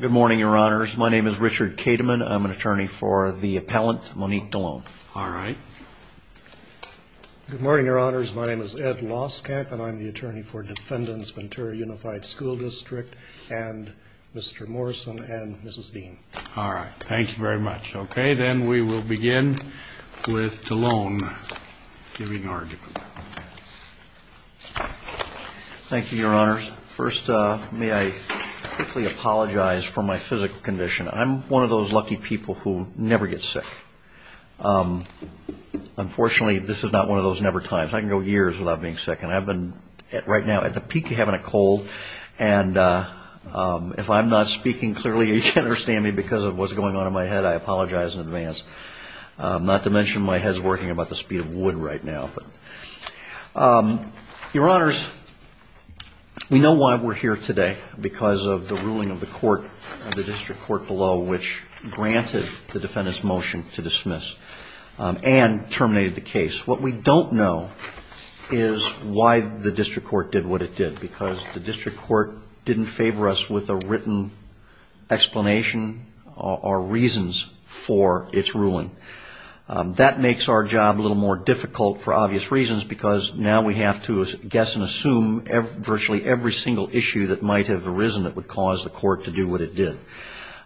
Good morning, your honors. My name is Richard Kateman. I'm an attorney for the appellant Monique Dallone. All right. Good morning, your honors. My name is Ed Loskamp and I'm the attorney for defendants Ventura Unified School District and Mr. Morrison and Mrs. Dean. All right, thank you very much. Okay, then we will begin with Dallone giving argument. Thank you, your honors. First, may I quickly apologize for my physical condition. I'm one of those lucky people who never get sick. Unfortunately, this is not one of those never times. I can go years without being sick and I've been right now at the peak of having a cold and if I'm not speaking clearly, you can understand me because of what's going on in my head, I apologize in advance. Not to mention my head's working about the because of the ruling of the court, the district court below, which granted the defendant's motion to dismiss and terminated the case. What we don't know is why the district court did what it did because the district court didn't favor us with a written explanation or reasons for its ruling. That makes our job a little more difficult for obvious reasons because now we have to guess and that might have arisen that would cause the court to do what it did.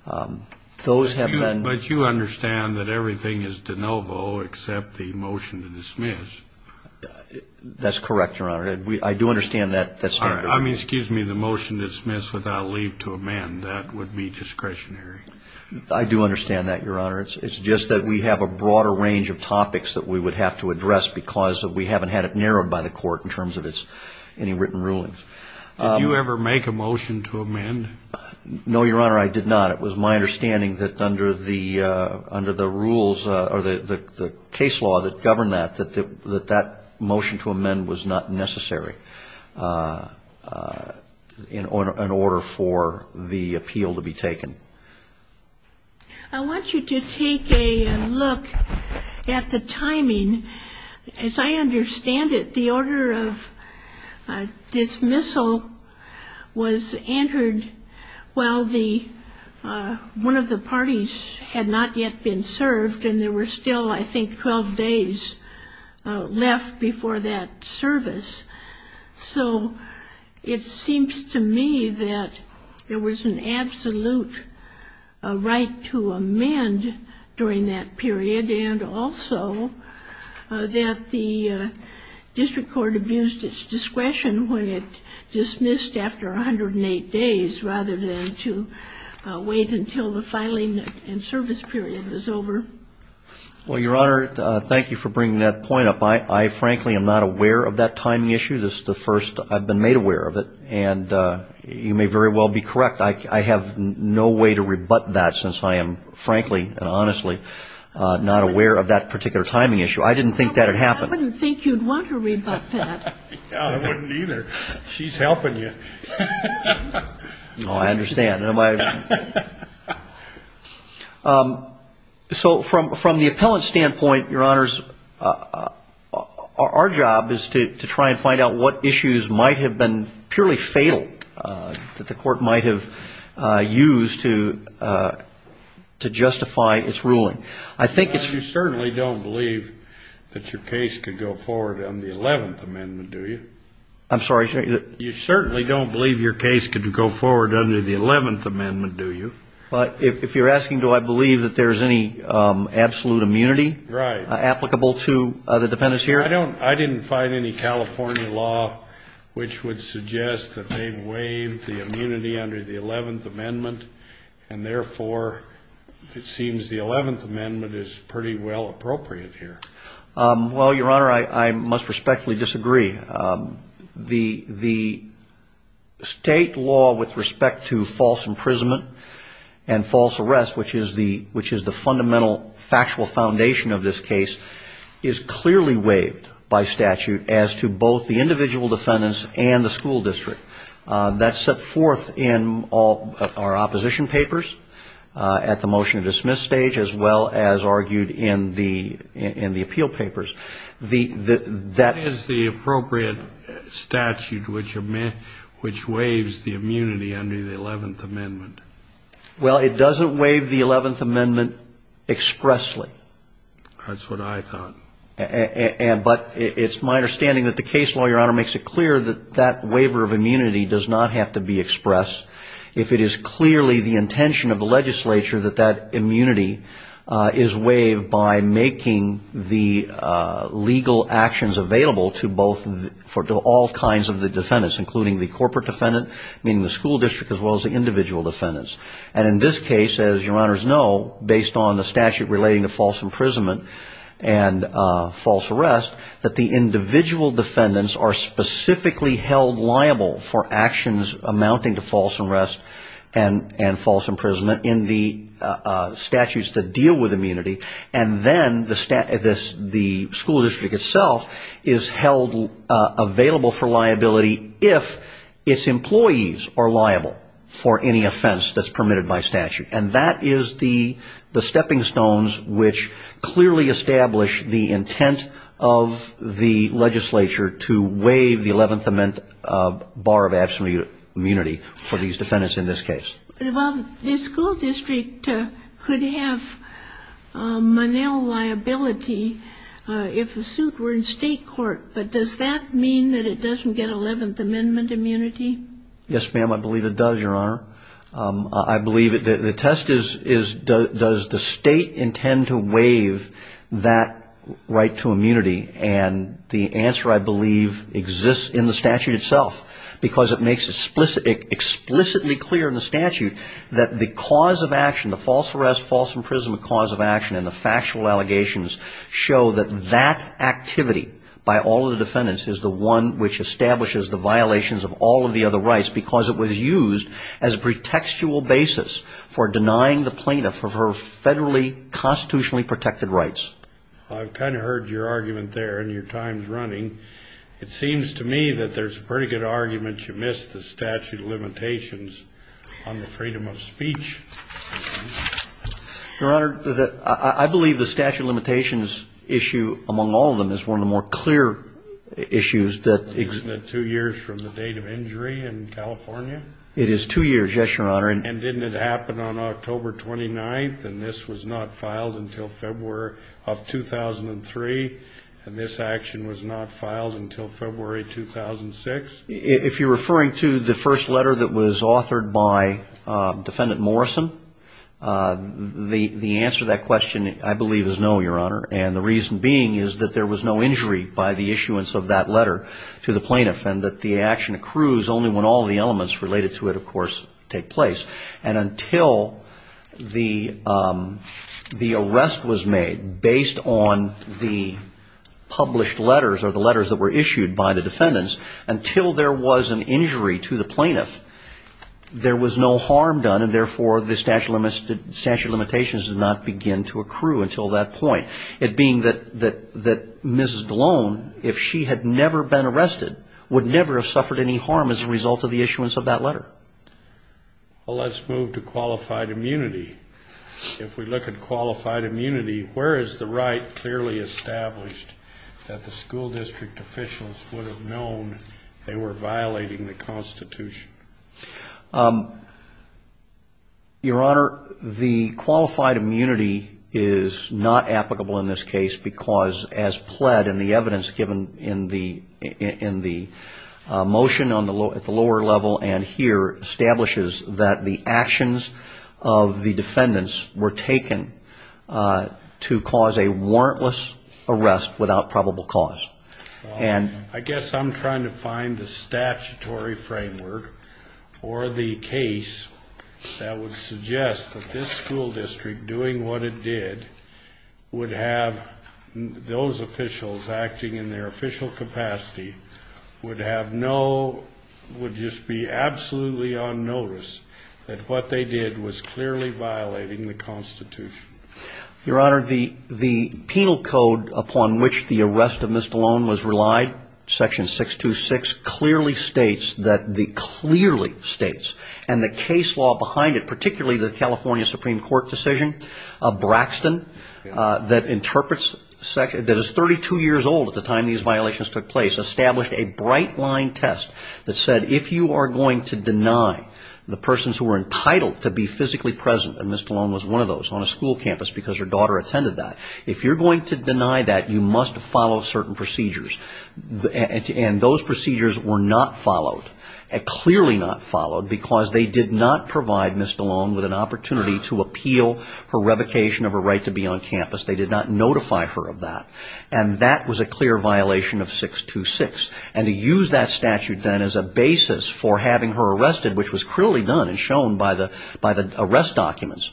But you understand that everything is de novo except the motion to dismiss. That's correct, your honor. I do understand that. I mean, excuse me, the motion to dismiss without leave to amend, that would be discretionary. I do understand that, your honor. It's just that we have a broader range of topics that we would have to address because we haven't had it narrowed by the court in terms of any written rulings. Did you ever make a motion to amend? No, your honor, I did not. It was my understanding that under the rules or the case law that governed that, that that motion to amend was not necessary in order for the appeal to be taken. I want you to take a look at the timing. As I understand it, the order of dismissal was entered while the one of the parties had not yet been served and there were still, I think, 12 days left before that service. So it seems to me that there was an absolute right to amend during that period. And also that the district court abused its discretion when it dismissed after 108 days rather than to wait until the filing and service period was over. Well, your honor, thank you for bringing that point up. I frankly am not aware of that timing issue. This is the first I've been made aware of it. And you may very well be correct. I have no way to rebut that since I am frankly and honestly not aware of that particular timing issue. I didn't think that had happened. I wouldn't think you'd want to rebut that. Yeah, I wouldn't either. She's helping you. No, I understand. So from the appellant standpoint, your honors, our job is to try and find out what issues might have been purely fatal that the court might have used to justify its ruling. I think it's... You certainly don't believe that your case could go forward under the 11th Amendment, do you? I'm sorry? You certainly don't believe your case could go forward under the 11th Amendment, do you? But if you're asking, do I believe that there's any absolute immunity applicable to the defendants here? I didn't find any California law which would suggest that they waived the immunity under the 11th Amendment and therefore it seems the 11th Amendment is pretty well appropriate here. Well, your honor, I must respectfully disagree. The state law with respect to false imprisonment and false arrest, which is the fundamental factual foundation of this case, is clearly waived by statute as to both the individual defendants and the school district. That's set forth in all our opposition papers at the motion to page as well as argued in the appeal papers. That is the appropriate statute which waives the immunity under the 11th Amendment. Well, it doesn't waive the 11th Amendment expressly. That's what I thought. But it's my understanding that the case law, your honor, makes it clear that that waiver of immunity does not have to be expressed if it is clearly the intention of the legislature that that immunity is waived by making the legal actions available to all kinds of the defendants, including the corporate defendant, meaning the school district, as well as the individual defendants. And in this case, as your honors know, based on the statute relating to false imprisonment and false arrest, that the individual defendants are specifically held liable for actions amounting to false arrest and false imprisonment in the statutes that deal with immunity. And then the school district itself is held available for liability if its employees are liable for any offense that's permitted by statute. And that is the stepping stones which clearly establish the intent of the legislature to waive the 11th Amendment bar of absolute immunity for these defendants in this case. But, Bob, the school district could have monel liability if the suit were in state court. But does that mean that it doesn't get 11th Amendment immunity? Yes, ma'am. I believe it does, your honor. I believe it does. The test is does the state intend to waive that right to immunity? And the answer, I believe, exists in the statute itself because it makes it explicitly clear in the statute that the cause of action, the false arrest, false imprisonment cause of action, and the factual allegations show that that activity by all of the defendants is the one which establishes the violations of all of the other rights because it was used as a pretextual basis for denying the plaintiff of her federally constitutionally protected rights. I've kind of heard your argument there and your time's running. It seems to me that there's a pretty good argument you missed the statute of limitations on the freedom of speech. Your honor, I believe the statute of limitations issue among all of them is one of the more clear issues that Isn't it two years from the date of injury in California? It is two years, yes, your honor. And didn't it happen on October 29th and this was not filed until February of 2003 and this action was not filed until February 2006? If you're referring to the first letter that was authored by defendant Morrison, the answer to that question, I believe, is no, your honor. And the reason being is that there was no injury by the issuance of that letter to the plaintiff and that the action accrues only when all of the elements related to it, of course, take place. And until the arrest was made based on the published letters or the letters that were issued by the defendants, until there was an injury to the plaintiff, there was no harm done and therefore the statute of limitations did not begin to accrue until that point. It being that Mrs. Blone, if she had never been arrested, would never have suffered any harm as a result of the issuance of that letter. Well, let's move to qualified immunity. If we look at qualified immunity, where is the right clearly established that the school district officials would have known they were violating the Constitution? Your honor, the qualified immunity is not applicable in this case because as the motion at the lower level and here establishes that the actions of the defendants were taken to cause a warrantless arrest without probable cause. I guess I'm trying to find the statutory framework or the case that would suggest that this school district, doing what it did, would have those would just be absolutely on notice that what they did was clearly violating the Constitution. Your honor, the penal code upon which the arrest of Mrs. Blone was relied, section 626, clearly states that the case law behind it, particularly the California Supreme Court decision, Braxton, that is 32 years old at the time these violations took place, established a bright-line test that said if you are going to deny the persons who are entitled to be physically present, and Mrs. Blone was one of those on a school campus because her daughter attended that, if you're going to deny that, you must follow certain procedures. And those procedures were not followed, clearly not followed, because they did not provide Mrs. Blone with an opportunity to appeal her revocation of her right to be on campus. They did not notify her of that. And that was a clear violation of 626. And to use that statute then as a basis for having her arrested, which was clearly done and shown by the arrest documents,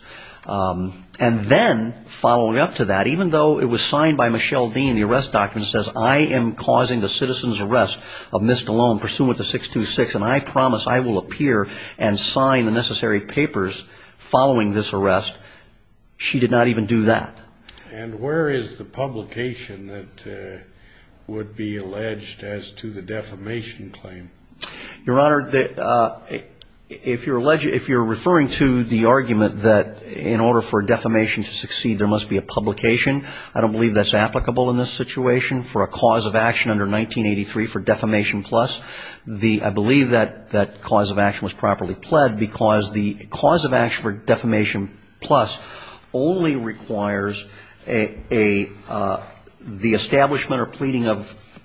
and then following up to that, even though it was signed by Michelle Dean, the arrest document says, I am causing the citizen's arrest of Mrs. Blone pursuant to 626, and I promise I will appear and sign the necessary papers following this arrest, she did not even do that. And where is the publication that would be alleged as to the defamation claim? Your Honor, if you're referring to the argument that in order for a defamation to succeed there must be a publication, I don't believe that's applicable in this situation for a cause of action under 1983 for defamation plus. I believe that cause of action was properly pled because the cause of action for defamation plus only requires the establishment or pleading of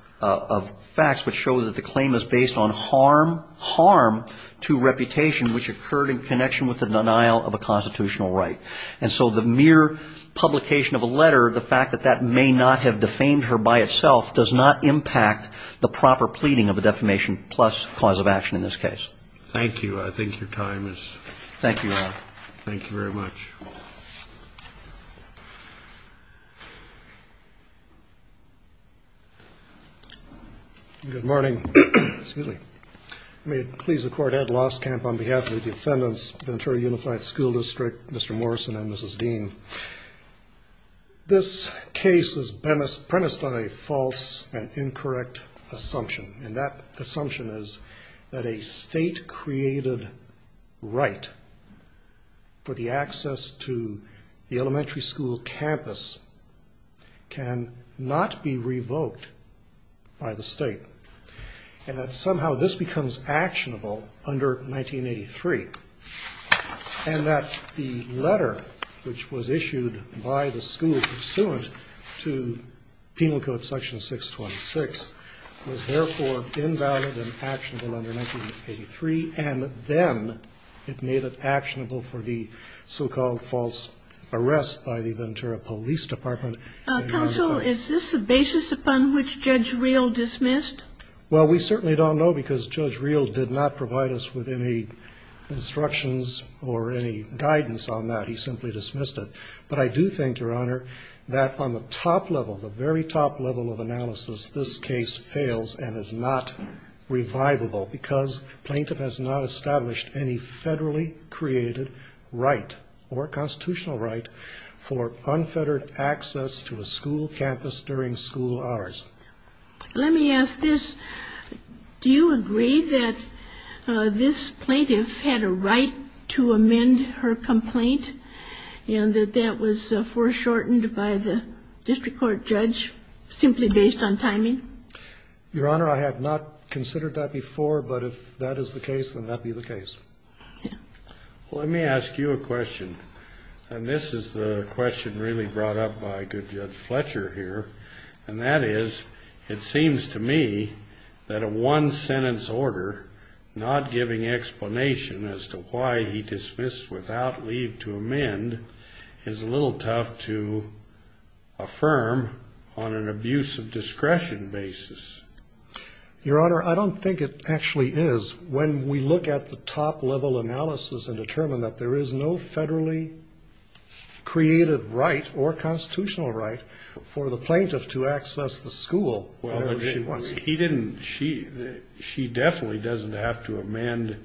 facts which show that the claim is based on harm to reputation which occurred in connection with the denial of a constitutional right. And so the mere publication of a letter, the fact that that may not have defamed her by itself does not impact the proper pleading of a defamation plus cause of action in this case. Thank you. I think your time is up. Thank you, Your Honor. Thank you very much. Good morning. May it please the Court, Ed Lostkamp on behalf of the defendants, Ventura Unified School District, Mr. Morrison and Mrs. Dean. This case is premised on a false and incorrect assumption, and that the state-created right for the access to the elementary school campus cannot be revoked by the state, and that somehow this becomes actionable under 1983, and that the letter which was issued by the school pursuant to penal code section 626 was therefore invalid and cannot be revoked under 1983, and then it made it actionable for the so-called false arrest by the Ventura Police Department. Counsel, is this a basis upon which Judge Reel dismissed? Well, we certainly don't know because Judge Reel did not provide us with any instructions or any guidance on that. He simply dismissed it. But I do think, Your Honor, that on the top level, the very top level of analysis, this case fails and is not revivable because plaintiff has not established any federally-created right or constitutional right for unfettered access to a school campus during school hours. Let me ask this. Do you agree that this plaintiff had a right to amend her complaint and that that was foreshortened by the district court judge simply based on timing? Your Honor, I have not considered that before, but if that is the case, then that be the case. Let me ask you a question, and this is the question really brought up by good Judge Fletcher here, and that is, it seems to me that a one-sentence order not giving explanation as to why he dismissed without leave to amend is a little tough to affirm on an abuse of basis. Your Honor, I don't think it actually is. When we look at the top-level analysis and determine that there is no federally-created right or constitutional right for the plaintiff to access the school, she definitely doesn't have to amend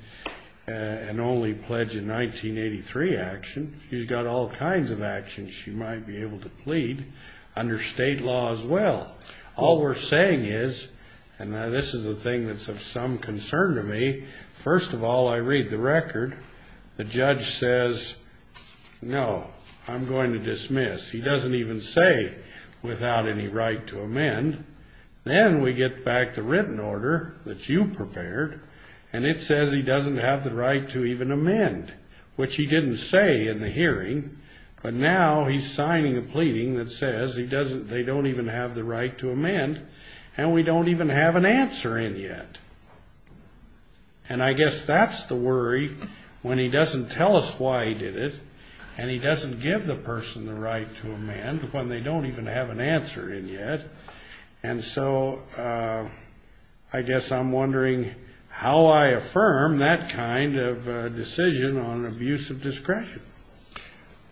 an only-pledged-in-1983 action. She's got all kinds of actions she might be able to plead under state law as well. All we're saying is, and this is a thing that's of some concern to me, first of all, I read the record. The judge says, no, I'm going to dismiss. He doesn't even say without any right to amend. Then we get back the written order that you prepared, and it says he doesn't have the right to even amend, which he didn't say in the hearing, but now he's signing a right to amend, and we don't even have an answer in yet. And I guess that's the worry when he doesn't tell us why he did it, and he doesn't give the person the right to amend when they don't even have an answer in yet. And so I guess I'm wondering how I affirm that kind of decision on abuse of discretion.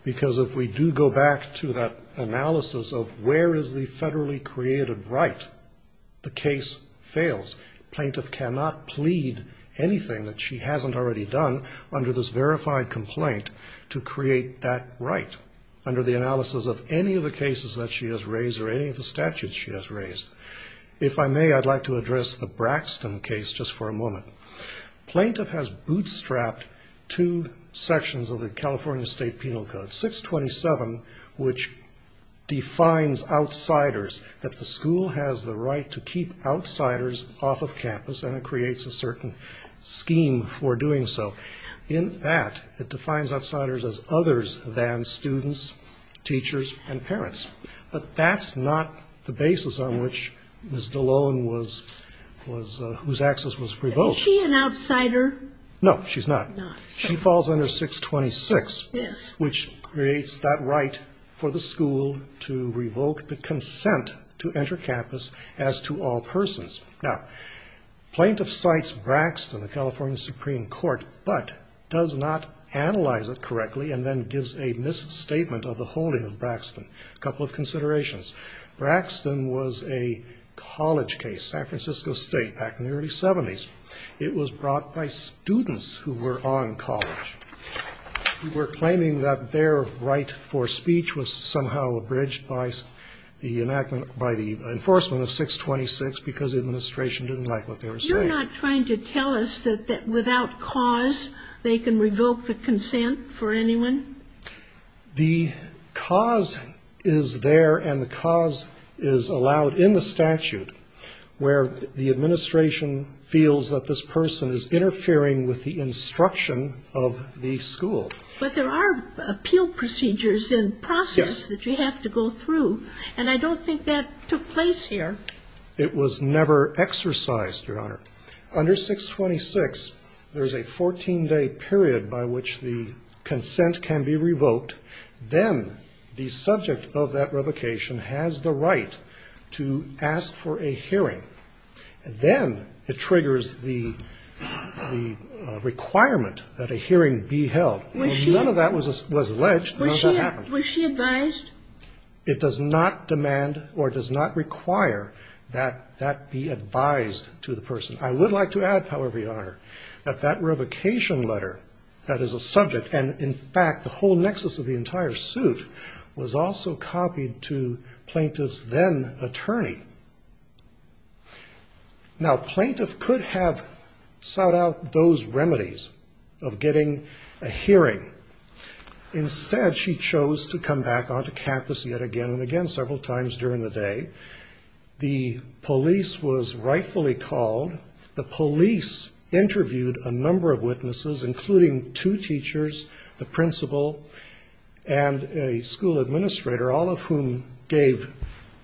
Because if we do go back to that analysis of where is the federally created right, the case fails. Plaintiff cannot plead anything that she hasn't already done under this verified complaint to create that right under the analysis of any of the cases that she has raised or any of the statutes she has raised. If I may, I'd like to address the Braxton case just for a moment. Plaintiff has bootstrapped two sections of the California State Penal Code, 627, which defines outsiders, that the school has the right to keep outsiders off of campus, and it creates a certain scheme for doing so. In that, it defines outsiders as others than students, teachers, and parents. But that's not the basis on which Ms. Dallone was, whose access was revoked. Is she an outsider? No, she's not. She falls under 626, which creates that right for the school to revoke the consent to enter campus as to all persons. Now, plaintiff cites Braxton, the California Supreme Court, but does not analyze it correctly and then gives a misstatement of the holding of Braxton. A couple of considerations. Braxton was a college case, San Francisco State, back in the early 70s. It was brought by students who were on college. We're claiming that their right for speech was somehow abridged by the enactment by the enforcement of 626 because the administration didn't like what they were saying. You're not trying to tell us that without cause they can revoke the consent for anyone? The cause is there and the cause is allowed in the statute where the administration feels that this person is interfering with the instruction of the school. But there are appeal procedures in process that you have to go through. Yes. And I don't think that took place here. It was never exercised, Your Honor. Under 626, there's a 14-day period by which the consent can be revoked. Then the subject of that revocation has the right to ask for a hearing. Then it triggers the requirement that a hearing be held. None of that was alleged. Was she advised? It does not demand or does not require that that be advised to the person. I would like to add, however, Your Honor, that that revocation letter that is a subject, and in fact the whole nexus of the entire suit, was also copied to plaintiff's then attorney. Now, plaintiff could have sought out those remedies of getting a hearing. Instead, she chose to come back onto campus yet again and again several times during the day. The police was rightfully called. The police interviewed a number of witnesses, including two teachers, the principal, and a school administrator, all of whom gave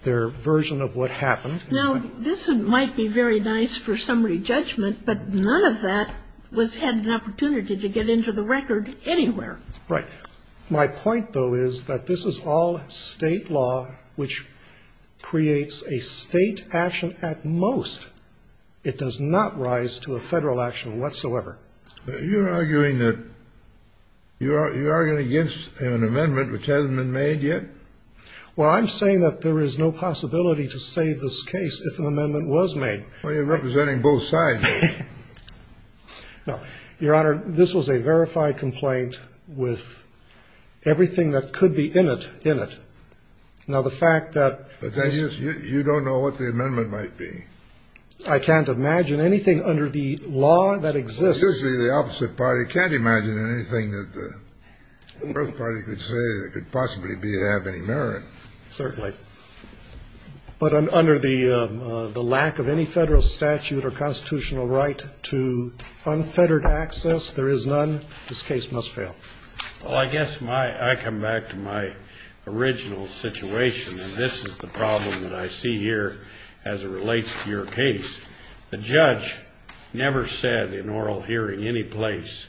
their version of what happened. Now, this might be very nice for summary judgment, but none of that was had an opportunity to get into the record anywhere. Right. My point, though, is that this is all state law, which creates a state action at most. It does not rise to a federal action whatsoever. You're arguing that you're arguing against an amendment which hasn't been made yet? Well, I'm saying that there is no possibility to save this case if an amendment was made. Well, you're representing both sides. No. Your Honor, this was a verified complaint with everything that could be in it, in it. Now, the fact that this But then you don't know what the amendment might be. I can't imagine anything under the law that exists Well, usually the opposite party can't imagine anything that the first party could say that could possibly have any merit. Certainly. But under the lack of any federal statute or constitutional right to unfettered access, there is none. This case must fail. Well, I guess I come back to my original situation, and this is the problem that I see here as it relates to your case. The judge never said in oral hearing any place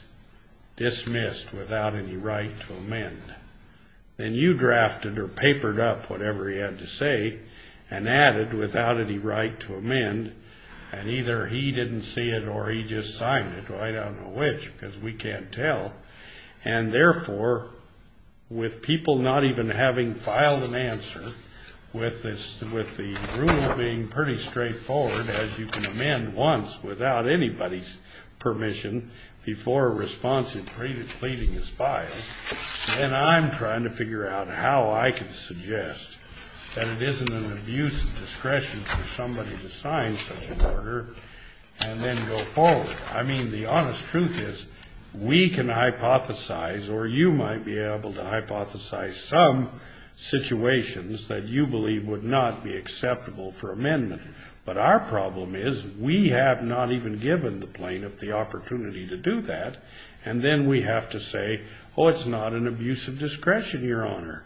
dismissed without any right to amend. Then you drafted or papered up whatever he had to say and added without any right to amend, and either he didn't see it or he just signed it. Well, I don't know which, because we can't tell. And therefore, with people not even having filed an answer, with the rule being pretty straightforward, as you can amend once without anybody's permission before a response in pleading his file, then I'm trying to figure out how I can suggest that it isn't an abuse of discretion for somebody to sign such an order and then go forward. I mean, the honest truth is we can hypothesize or you might be able to hypothesize some situations that you believe would not be acceptable for amendment. But our problem is we have not even given the plaintiff the opportunity to do that. And then we have to say, oh, it's not an abuse of discretion, Your Honor.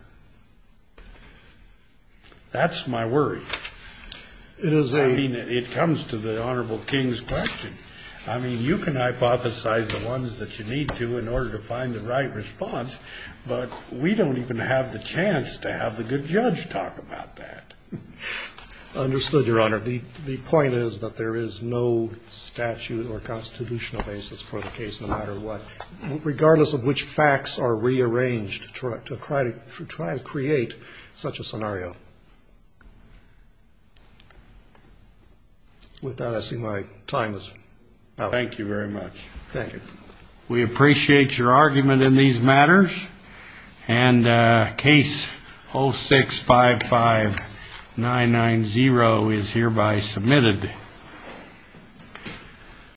That's my worry. It is a. I mean, it comes to the Honorable King's question. I mean, you can hypothesize the ones that you need to in order to find the right response. But we don't even have the chance to have the good judge talk about that. Understood, Your Honor. The point is that there is no statute or constitutional basis for the case, no matter what, regardless of which facts are rearranged to try to create such a scenario. With that, I see my time is up. Thank you very much. Thank you. We appreciate your argument in these matters and case 0655990 is hereby submitted.